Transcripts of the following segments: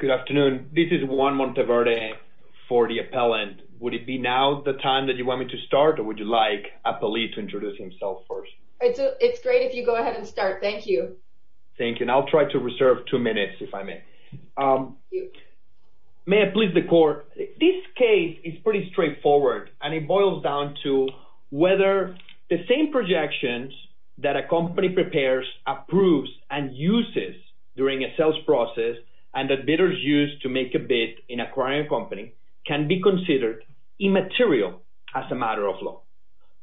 Good afternoon, this is Juan Monteverde for the appellant. Would it be now the time that you want me to start or would you like a police to introduce himself first? It's great if you go ahead and start, thank you. Thank you and I'll try to reserve two minutes if I may. May I please the court, this case is pretty straightforward and it boils down to whether the same projections that a sales process and that bidders use to make a bid in acquiring a company can be considered immaterial as a matter of law.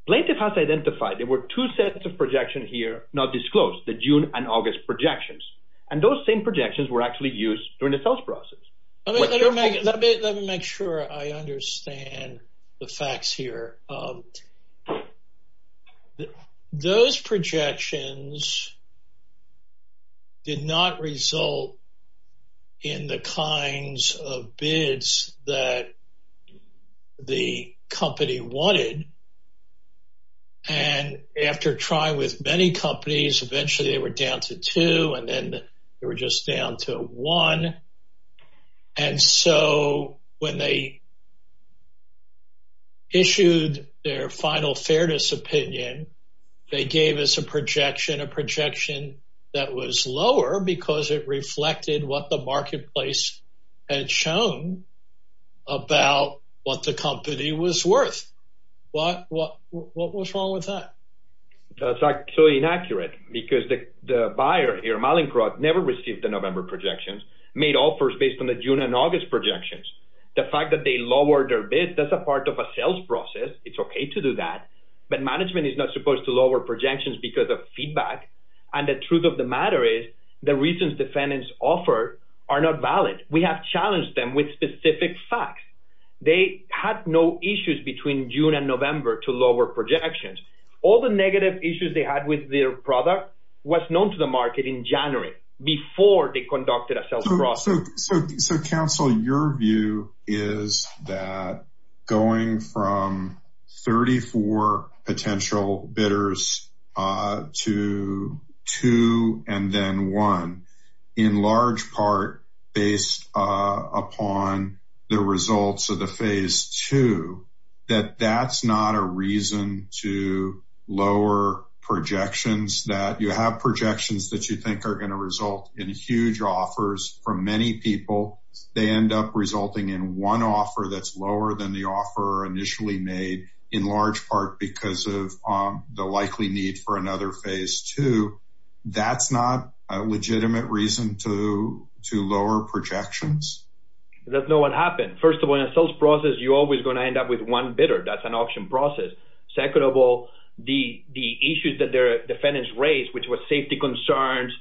Plaintiff has identified there were two sets of projection here not disclosed, the June and August projections and those same projections were actually used during the sales process. Let me make sure I understand the facts here. Those projections did not result in the kinds of bids that the company wanted and after trying with many companies eventually they were down to two and then they were just down to one and so when they issued their final fairness opinion they gave us a projection, a projection that was lower because it reflected what the marketplace had shown about what the company was worth. What was wrong with that? That's actually inaccurate because the buyer here, Malincroft, never received the November projections, made offers based on the June and August projections. The fact that they lowered their bids, that's a part of a sales process, it's okay to do that but management is not supposed to lower projections because of feedback and the truth of the matter is the reasons defendants offer are not valid. We have challenged them with specific facts. They had no issues between June and November to lower projections. All the negative issues they had with their product was known to the market in January before they conducted a sales process. So counsel, your view is that going from 34 potential bidders to two and then one in large part based upon the results of the phase two that that's not a reason to lower projections that you have projections that you think are going to result in huge offers from many people they end up resulting in one offer that's lower than the offer initially made in large part because of the likely need for another phase two that's not a legitimate reason to to lower projections. That's not what happened. First of all in a sales process you're always going to end up with one bidder that's an auction process. Second of all the the issues that their defendants raised which was safety concerns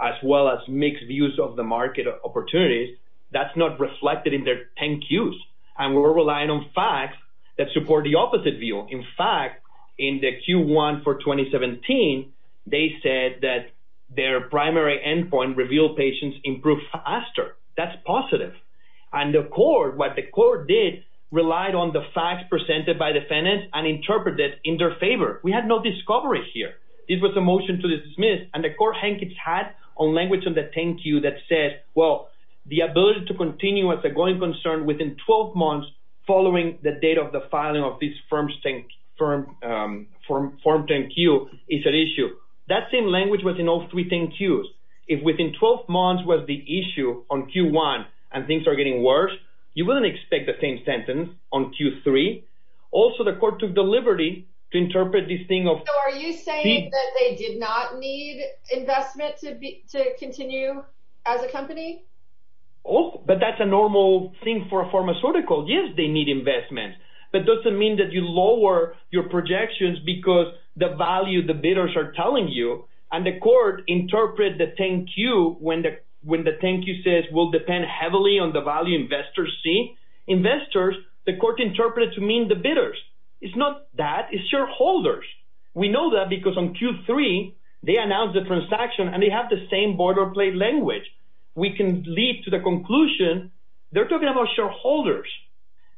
as well as mixed views of the market opportunities that's not reflected in their 10 cues and we're relying on facts that support the opposite view. In fact in the Q1 for 2017 they said that their primary endpoint revealed patients improve faster. That's positive and the court what the court did relied on the facts presented by defendants and interpreted in their favor. We had no discovery here. This was a motion to dismiss and the court had on language on the 10 cue that says well the ability to continue as a growing concern within 12 months following the date of the filing of this firm 10 cue is an issue. That same language was in all three 10 cues. If within 12 months was the issue on Q1 and things are getting worse you wouldn't expect the same sentence on Q3. Also the court took the liberty to interpret this thing of... So are you saying that they did not need investment to continue as a company? Oh but that's a normal thing for a pharmaceutical. Yes they need investments but doesn't mean that you lower your projections because the value the bidders are telling you and the court interpret the 10 cue when the when the 10 cue says will depend heavily on the value investors see. Investors the court interpreted to mean the bidders. It's not that it's shareholders. We know that because on Q3 they announced the transaction and they have the same order plate language. We can lead to the conclusion they're talking about shareholders.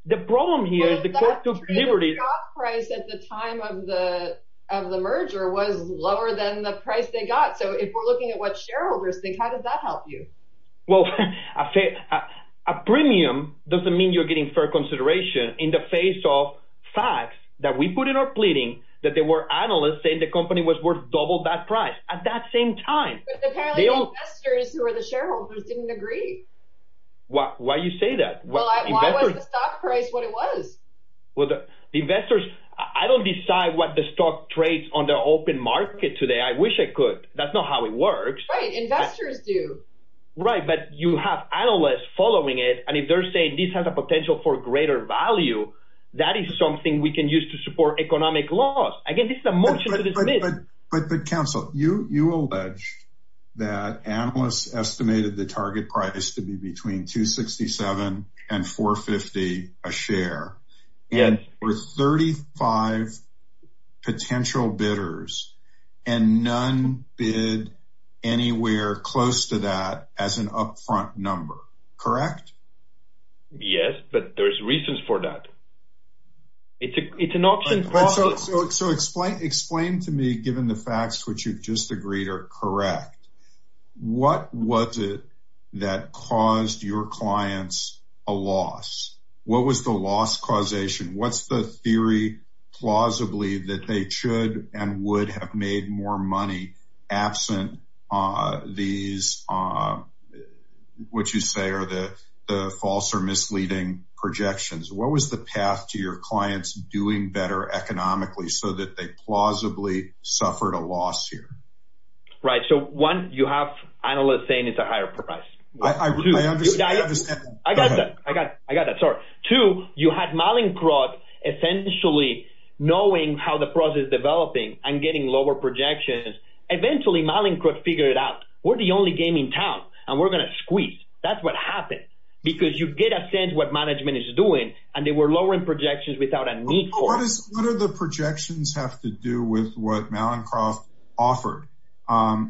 The problem here is the court took the liberty. The stock price at the time of the merger was lower than the price they got so if we're looking at what shareholders think how does that help you? Well a premium doesn't mean you're getting fair consideration in the face of facts that we put in our pleading that there were analysts saying the company was worth double that price at that same time. But apparently the investors who are the shareholders didn't agree. Why you say that? Well why was the stock price what it was? Well the investors I don't decide what the stock trades on the open market today I wish I could that's not how it works. Right investors do. Right but you have analysts following it and if they're saying this has a potential for greater value that is something we can use to support economic loss. Again this But counsel you you allege that analysts estimated the target price to be between 267 and 450 a share. Yes. And for 35 potential bidders and none bid anywhere close to that as an upfront number. Correct? Yes but there's reasons for that. It's an option. So explain to me given the facts which you've just agreed are correct. What was it that caused your clients a loss? What was the loss causation? What's the theory plausibly that they should and would have made more money absent these what you say are the false or misleading projections. What was the path to your clients doing better economically so that they plausibly suffered a loss here? Right so one you have analysts saying it's a higher price. I got that. I got that. Sorry. Two you had Malinkroth essentially knowing how the process is developing and getting lower projections eventually Malinkroth figured it out. We're the only game in town and we're gonna squeeze. That's what happened because you get a sense what management is doing and they were lowering projections without a need for it. What are the projections have to do with what Malinkroth offered?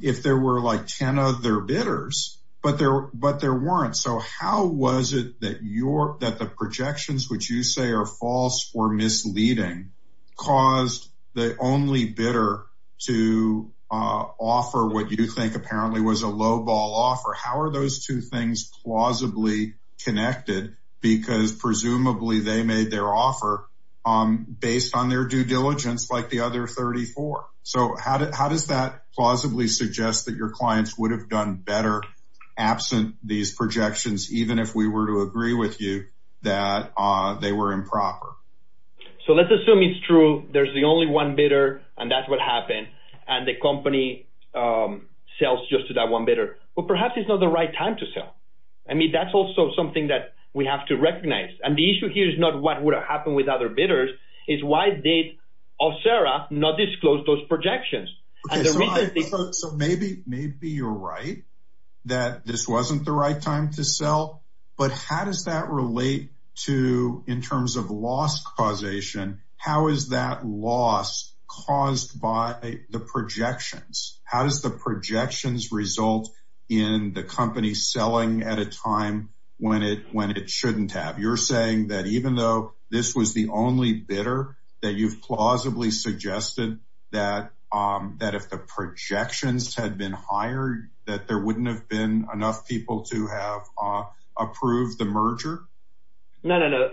If there were like ten other bidders but there but there weren't. So how was it that you're that the projections which you say are false or misleading caused the only bidder to offer what you think apparently was a lowball offer. How are those two things plausibly connected because presumably they made their offer based on their due diligence like the other 34. So how does that plausibly suggest that your clients would have done better absent these projections even if we were to agree with you that they were improper. So let's assume it's true there's the only one bidder and that's what happened and the company sells just to that one bidder. Well perhaps it's not the right time to sell. I mean that's also something that we have to recognize and the issue here is not what would have happened with other bidders is why did Alcera not disclose those projections. So maybe you're right that this wasn't the right time to sell but how does that relate to in terms of loss causation how is that loss caused by the projections. How does the projections result in the company selling at a time when it when it shouldn't have. You're saying that even though this was the only bidder that you've plausibly suggested that that if the projections had been higher that there wouldn't have been enough people to have approved the merger. No no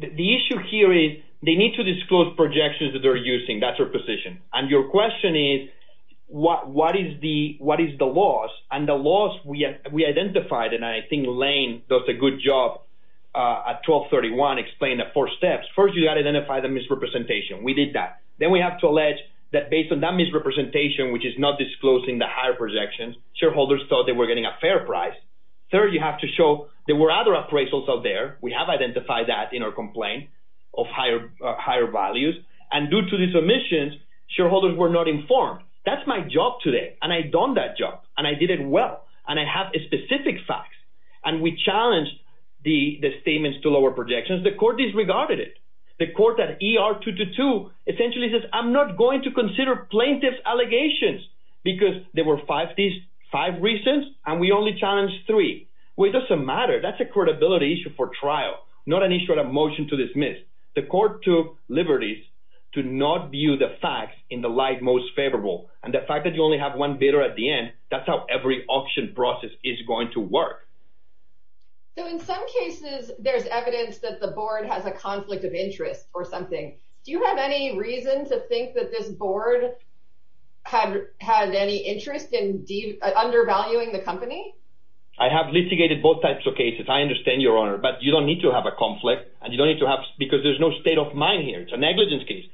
the issue here is they need to disclose projections that they're using that's our position and your question is what what is the what is the loss and the loss we identified and I think Lane does a good job at 1231 explained the four steps. First you got to identify the misrepresentation. We did that. Then we have to allege that based on that misrepresentation which is not disclosing the higher projections shareholders thought they were getting a fair price. Third you have to show there were other appraisals out there. We have identified that in our complaint of higher higher values and due to the submissions shareholders were not informed. That's my job today and I've done that job and I did it well and I have a specific facts and we challenged the the statements to lower projections the court disregarded it. The court at ER 222 essentially says I'm not going to five reasons and we only challenged three. Well it doesn't matter that's a credibility issue for trial not an issue at a motion to dismiss. The court took liberties to not view the facts in the light most favorable and the fact that you only have one bidder at the end that's how every auction process is going to work. So in some cases there's evidence that the board has a conflict of interest or something. Do you have any reason to think that this board had had any interest in undervaluing the company? I have litigated both types of cases I understand your honor but you don't need to have a conflict and you don't need to have because there's no state of mind here it's a negligence case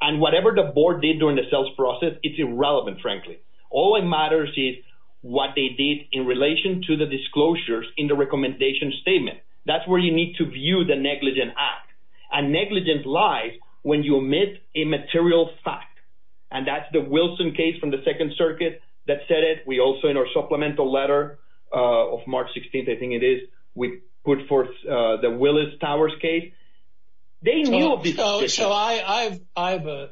and whatever the board did during the sales process it's irrelevant frankly. All that matters is what they did in relation to the disclosures in the recommendation statement. That's where you need to view the negligent act and negligence lies when you omit a material fact and that's the Wilson case from the Second Circuit that said it we also in our supplemental letter of March 16th I think it is we put forth the Willis Towers case. So I have a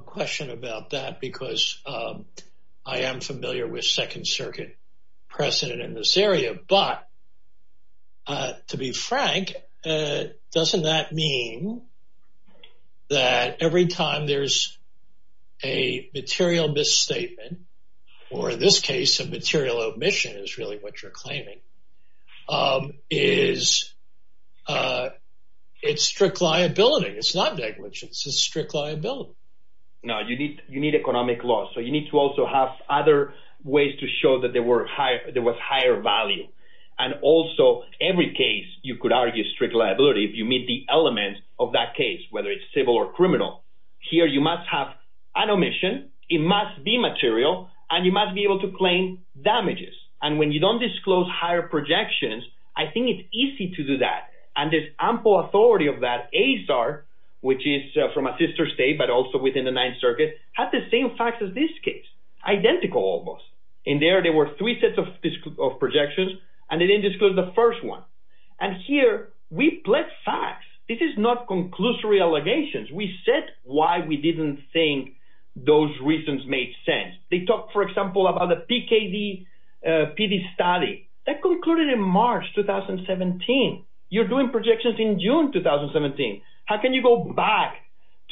question about that because I am familiar with Second Circuit precedent in this area but to be frank doesn't that mean that every time there's a material misstatement or in this case of material omission is really what you're claiming is it's strict liability it's not negligence it's a strict liability. No you need you need economic law so you need to also have other ways to show that there were higher there was higher value and also every case you could argue strict liability if you meet the element of that case whether it's an omission it must be material and you must be able to claim damages and when you don't disclose higher projections I think it's easy to do that and there's ample authority of that Azar which is from a sister state but also within the Ninth Circuit had the same facts as this case identical almost in there there were three sets of projections and they didn't disclose the first one and here we pledge facts this is not conclusory allegations we said why we didn't think those reasons made sense they talked for example about the PKD PD study that concluded in March 2017 you're doing projections in June 2017 how can you go back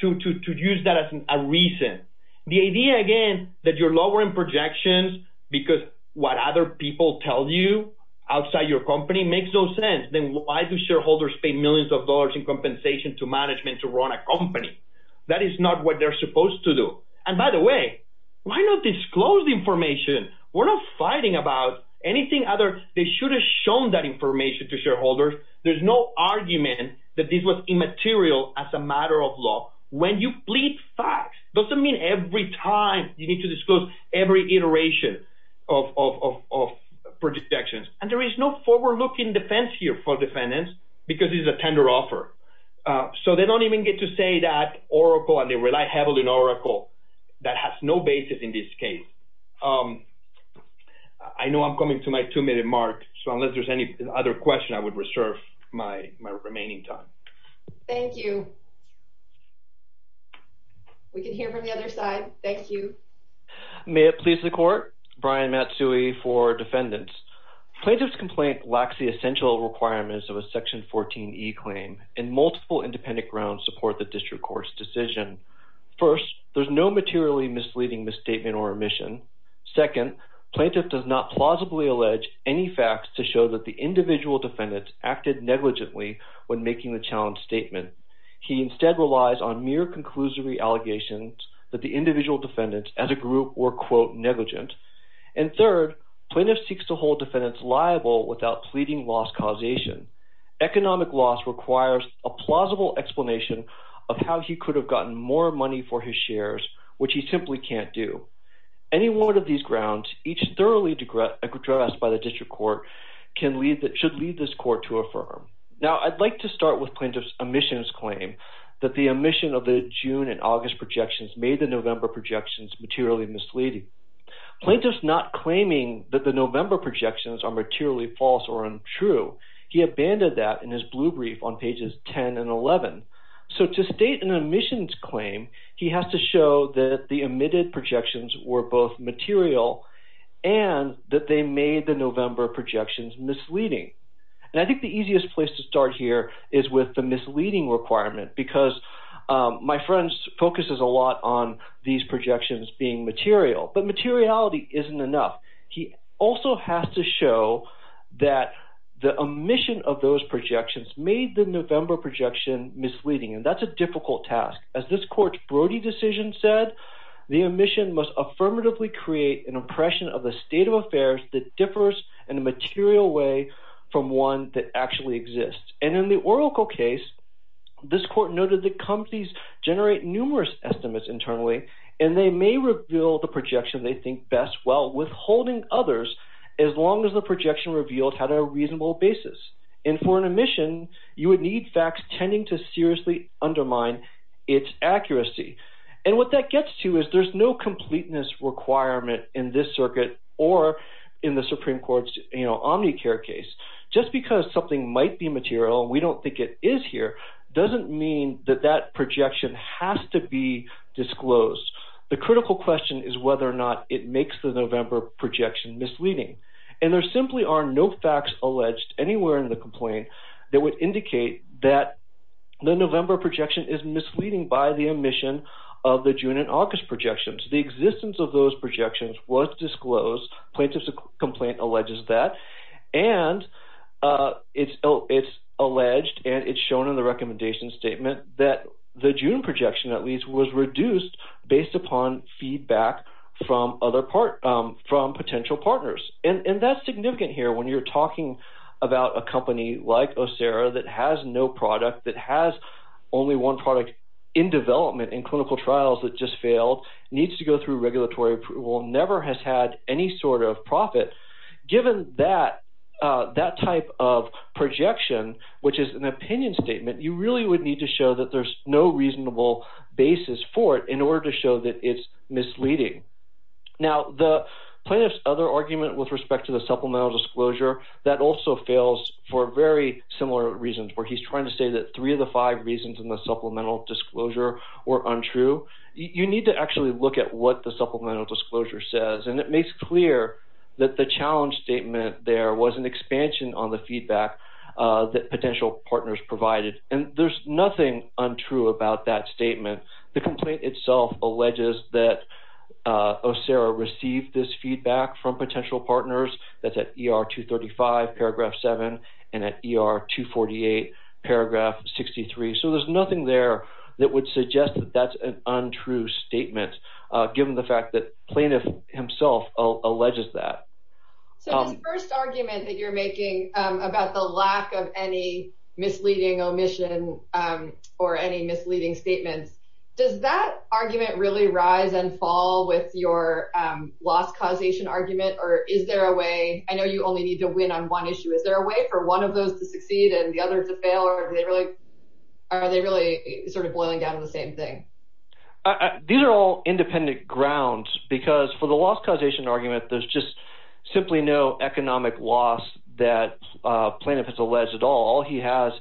to to use that as a reason the idea again that you're lowering projections because what other people tell you outside your company makes no sense then why do shareholders pay millions of dollars in compensation to management to run a company that is not what they're supposed to do and by the way why not disclose the information we're not fighting about anything other they should have shown that information to shareholders there's no argument that this was immaterial as a matter of law when you plead facts doesn't mean every time you need to disclose every iteration of projections and there is no looking defense here for defendants because it's a tender offer so they don't even get to say that Oracle and they rely heavily in Oracle that has no basis in this case I know I'm coming to my two-minute mark so unless there's any other question I would reserve my remaining time thank you we can hear from the other side thank you may it please the court Brian Matsui for defendants plaintiffs complaint lacks the essential requirements of a section 14e claim and multiple independent grounds support the district courts decision first there's no materially misleading misstatement or omission second plaintiff does not plausibly allege any facts to show that the individual defendants acted negligently when making the challenge statement he instead relies on mere conclusory allegations that the individual defendants as a group were quote negligent and third plaintiffs seeks to hold defendants liable without pleading loss causation economic loss requires a plausible explanation of how he could have gotten more money for his shares which he simply can't do any one of these grounds each thoroughly degressed by the district court can leave that should leave this court to affirm now I'd like to start with plaintiffs omissions claim that the omission of the June and August projections made the November projections materially misleading plaintiffs not claiming that the November projections are materially false or untrue he abandoned that in his blue brief on pages 10 and 11 so to state an omissions claim he has to show that the omitted projections were both material and that they made the November projections misleading and I think the easiest place to start here is with the leading requirement because my friends focuses a lot on these projections being material but materiality isn't enough he also has to show that the omission of those projections made the November projection misleading and that's a difficult task as this court's Brody decision said the omission must affirmatively create an impression of the state of affairs that differs in a that actually exists and in the Oracle case this court noted that companies generate numerous estimates internally and they may reveal the projection they think best well withholding others as long as the projection revealed had a reasonable basis and for an omission you would need facts tending to seriously undermine its accuracy and what that gets to is there's no completeness requirement in this circuit or in the Supreme Court's you know Omnicare case just because something might be material we don't think it is here doesn't mean that that projection has to be disclosed the critical question is whether or not it makes the November projection misleading and there simply are no facts alleged anywhere in the complaint that would indicate that the November projection is misleading by the omission of the June and August projections the existence of those projections was disclosed plaintiffs complaint alleges that and it's oh it's alleged and it's shown in the recommendation statement that the June projection at least was reduced based upon feedback from other part from potential partners and that's significant here when you're talking about a company like Oh Sarah that has no product that has only one product in development in clinical trials that just failed needs to go through regulatory approval never has had any sort of profit given that that type of projection which is an opinion statement you really would need to show that there's no reasonable basis for it in order to show that it's misleading now the plaintiff's other argument with respect to the supplemental disclosure that also fails for very similar reasons where he's trying to say that three of the five reasons in the supplemental disclosure were untrue you need to actually look at what the supplemental disclosure says and it makes clear that the challenge statement there was an expansion on the feedback that potential partners provided and there's nothing untrue about that statement the complaint itself alleges that Oh Sarah received this feedback from potential partners that's at ER 235 paragraph 7 and at ER 248 paragraph 63 so there's nothing there that would suggest that an untrue statement given the fact that plaintiff himself alleges that first argument that you're making about the lack of any misleading omission or any misleading statements does that argument really rise and fall with your loss causation argument or is there a way I know you only need to win on one issue is there a way for one of those to succeed and the other to fail or they are they really sort of boiling down to the same thing these are all independent grounds because for the loss causation argument there's just simply no economic loss that plaintiff has alleged at all he has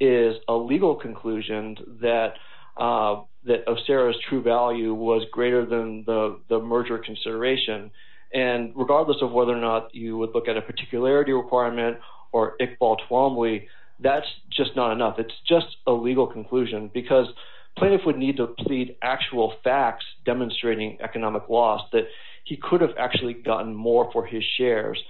is a legal conclusion that that of Sarah's true value was greater than the the merger consideration and regardless of whether or not you would look at a particularity requirement or it's just a legal conclusion because plaintiff would need to plead actual facts demonstrating economic loss that he could have actually gotten more for his shares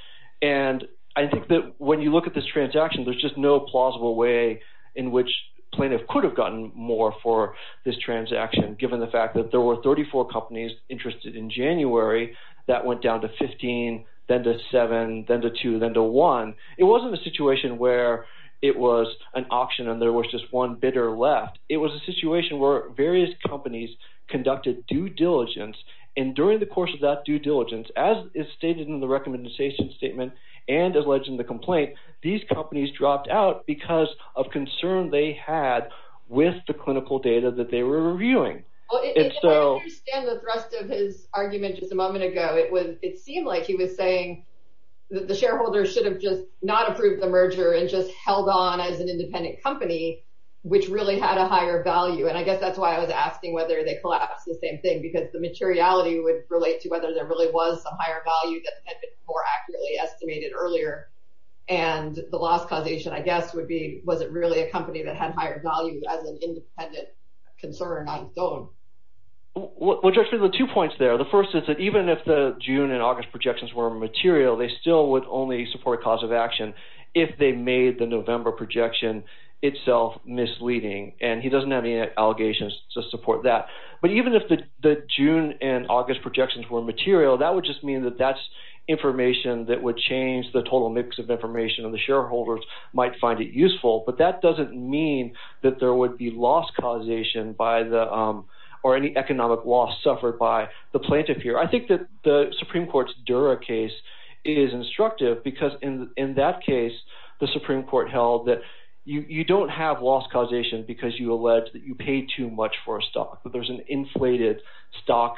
and I think that when you look at this transaction there's just no plausible way in which plaintiff could have gotten more for this transaction given the fact that there were 34 companies interested in January that went down to 15 then to 7 then to 2 then to 1 it wasn't a situation where it was an it was a situation where various companies conducted due diligence and during the course of that due diligence as is stated in the recommendation statement and as legend the complaint these companies dropped out because of concern they had with the clinical data that they were reviewing it's so it seemed like he was saying that the shareholders should have just not which really had a higher value and I guess that's why I was asking whether they collapse the same thing because the materiality would relate to whether there really was a higher value that had been more accurately estimated earlier and the last causation I guess would be was it really a company that had higher value as an independent concern I don't what's actually the two points there the first is that even if the June and August projections were material they still would only support cause of action if they made the November projection itself misleading and he doesn't have any allegations to support that but even if the June and August projections were material that would just mean that that's information that would change the total mix of information and the shareholders might find it useful but that doesn't mean that there would be lost causation by the or any economic loss suffered by the plaintiff here I think that the Supreme Court's Dura case is instructive because in in that case the Supreme Court held that you don't have lost causation because you allege that you pay too much for a stock that there's an inflated stock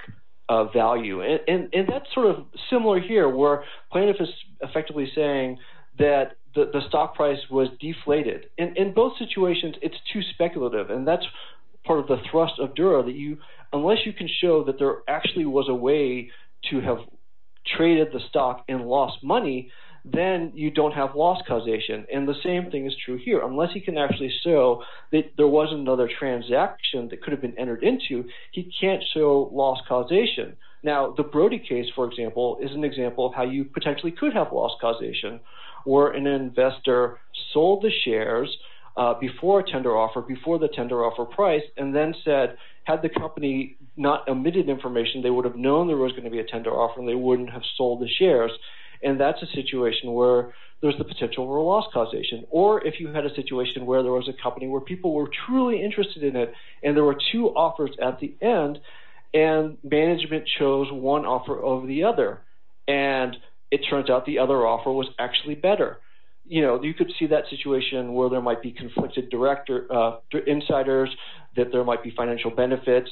value and that's sort of similar here where plaintiff is effectively saying that the stock price was deflated and in both situations it's too speculative and that's part of the thrust of Dura that you unless you can show that there actually was a way to have traded the stock and lost money then you don't have lost causation and the same thing is true here unless he can actually show that there was another transaction that could have been entered into he can't show lost causation now the Brody case for example is an example of how you potentially could have lost causation where an investor sold the shares before a tender offer before the tender offer price and then said had the company not omitted information they would have known there was going to be a tender offer they wouldn't have sold the shares and that's a situation where there's the potential for a loss causation or if you had a situation where there was a company where people were truly interested in it and there were two offers at the end and management chose one offer over the other and it turns out the other offer was actually better you know you could see that situation where there might be conflicted director insiders that there might be financial benefits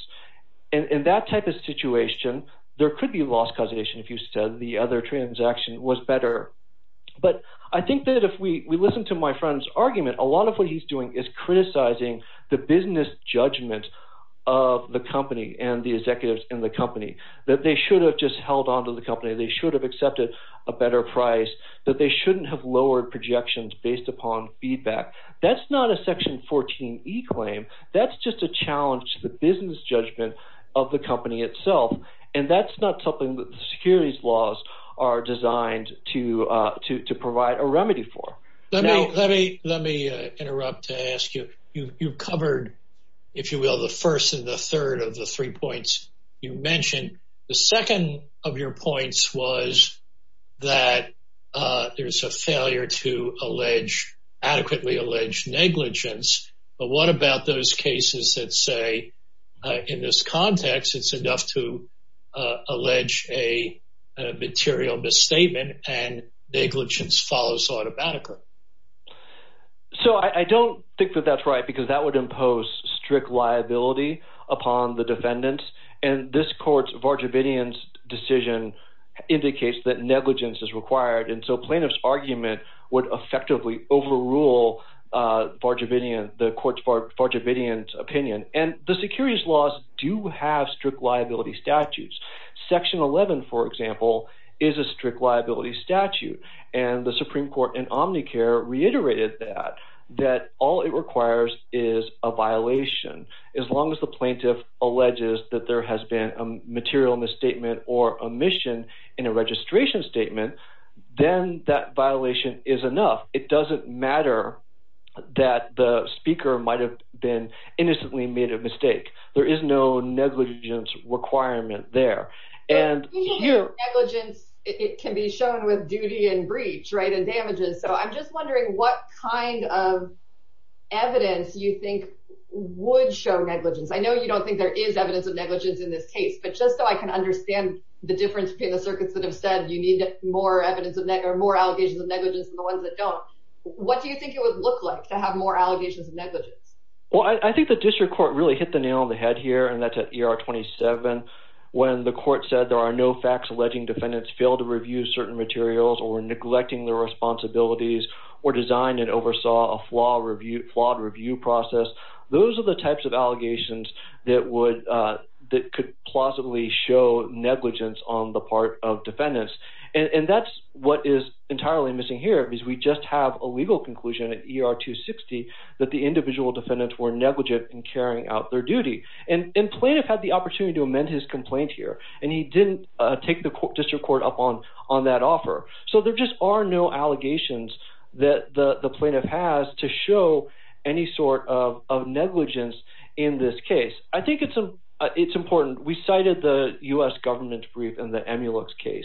and in that type of situation there could be lost causation if you said the other transaction was better but I think that if we listen to my friends argument a lot of what he's doing is criticizing the business judgment of the company and the executives in the company that they should have just held on to the company they should have accepted a better price that they shouldn't have lowered projections based upon feedback that's not a section 14 e claim that's just a challenge the business judgment of the laws are designed to to provide a remedy for let me let me interrupt to ask you you've covered if you will the first and the third of the three points you mentioned the second of your points was that there's a failure to allege adequately allege negligence but what about those cases that say in this material misstatement and negligence follows automatically so I don't think that that's right because that would impose strict liability upon the defendants and this courts Varjavidian's decision indicates that negligence is required and so plaintiffs argument would effectively overrule Varjavidian the courts for Varjavidian's opinion and the securities laws do have strict liability statutes section 11 for example is a strict liability statute and the Supreme Court in Omnicare reiterated that that all it requires is a violation as long as the plaintiff alleges that there has been a material misstatement or omission in a registration statement then that violation is enough it doesn't matter that the speaker might have been made a mistake there is no negligence requirement there and it can be shown with duty and breach right and damages so I'm just wondering what kind of evidence you think would show negligence I know you don't think there is evidence of negligence in this case but just so I can understand the difference between the circuits that have said you need more evidence of that or more allegations of negligence the ones that don't what do you think it would look like to have more allegations of negligence well I think the district court really hit the nail on the head here and that's at ER 27 when the court said there are no facts alleging defendants fail to review certain materials or neglecting their responsibilities or design and oversaw a flaw review flawed review process those are the types of allegations that would that could plausibly show negligence on the part of defendants and that's what is entirely missing here because we just have a legal conclusion at ER 260 that the individual defendants were negligent in carrying out their duty and in plaintiff had the opportunity to amend his complaint here and he didn't take the court district court upon on that offer so there just are no allegations that the the plaintiff has to show any sort of negligence in this case I think it's a it's important we cited the u.s. government brief in the case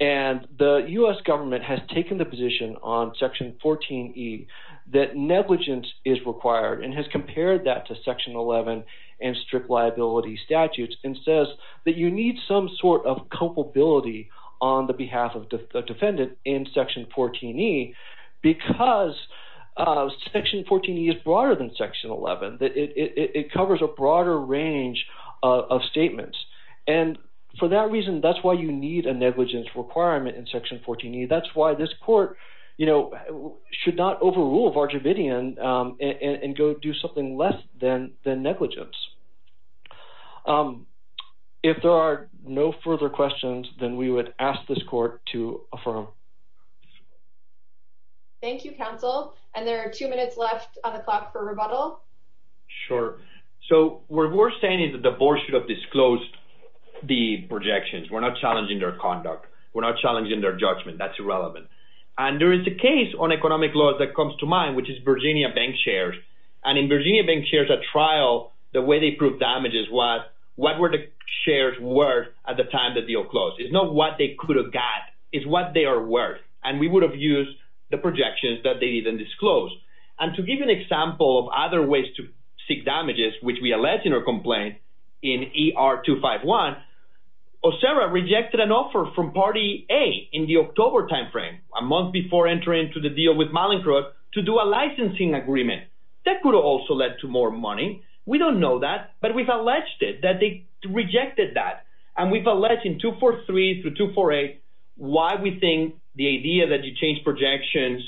and the u.s. government has taken the position on section 14 e that negligence is required and has compared that to section 11 and strict liability statutes and says that you need some sort of culpability on the behalf of defendant in section 14 e because section 14 e is broader than section 11 that it covers a broader range of statements and for that reason that's why you need a negligence requirement in section 14 e that's why this court you know should not overrule Varjavidian and go do something less than the negligence if there are no further questions then we would ask this court to affirm thank you counsel and there are two minutes left on the clock for rebuttal sure so we're saying is that the board should have disclosed the projections we're not challenging their conduct we're not challenging their judgment that's irrelevant and there is a case on economic laws that comes to mind which is Virginia Bank shares and in Virginia Bank shares a trial the way they prove damages what what were the shares worth at the time that deal closed it's not what they could have got is what they are worth and we would have used the projections that they didn't disclose and to give an example of other ways to seek damages which we allege in our complaint in ER 251 or Sarah rejected an offer from party a in the October time frame a month before entering to the deal with Malincroft to do a licensing agreement that could have also led to more money we don't know that but we've alleged it that they rejected that and we've alleged in 243 through 248 why we think the idea that you change projections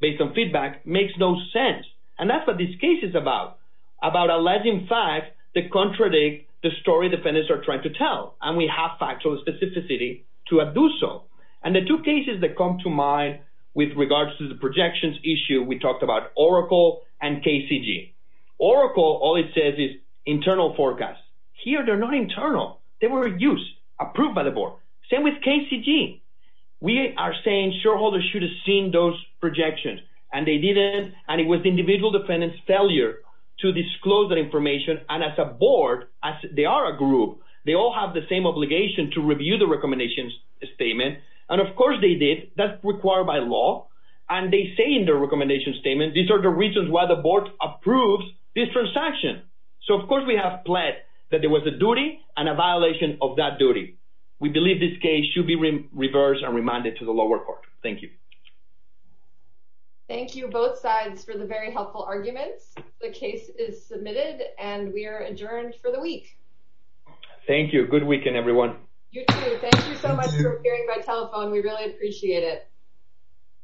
based on feedback makes no sense and that's what this case is about about alleging facts that contradict the story defendants are trying to tell and we have factual specificity to have do so and the two cases that come to mind with regards to the projections issue we talked about Oracle and KCG Oracle all it says is internal forecast here they're not internal they were used approved by the board same with KCG we are saying shareholders should have seen those projections and they didn't and it was individual defendants failure to disclose that information and as a board as they are a group they all have the same obligation to review the recommendations statement and of course they did that's required by law and they say in their recommendation statement these are the reasons why the board approves this transaction so of course we have pled that there was a duty and a violation of that duty we believe this case should be reversed and remanded to the lower court thank you thank you both sides for the very helpful arguments the case is submitted and we are adjourned for the week thank you good weekend everyone we really appreciate it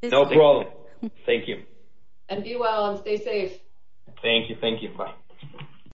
no problem thank you and be well and stay safe thank you thank you bye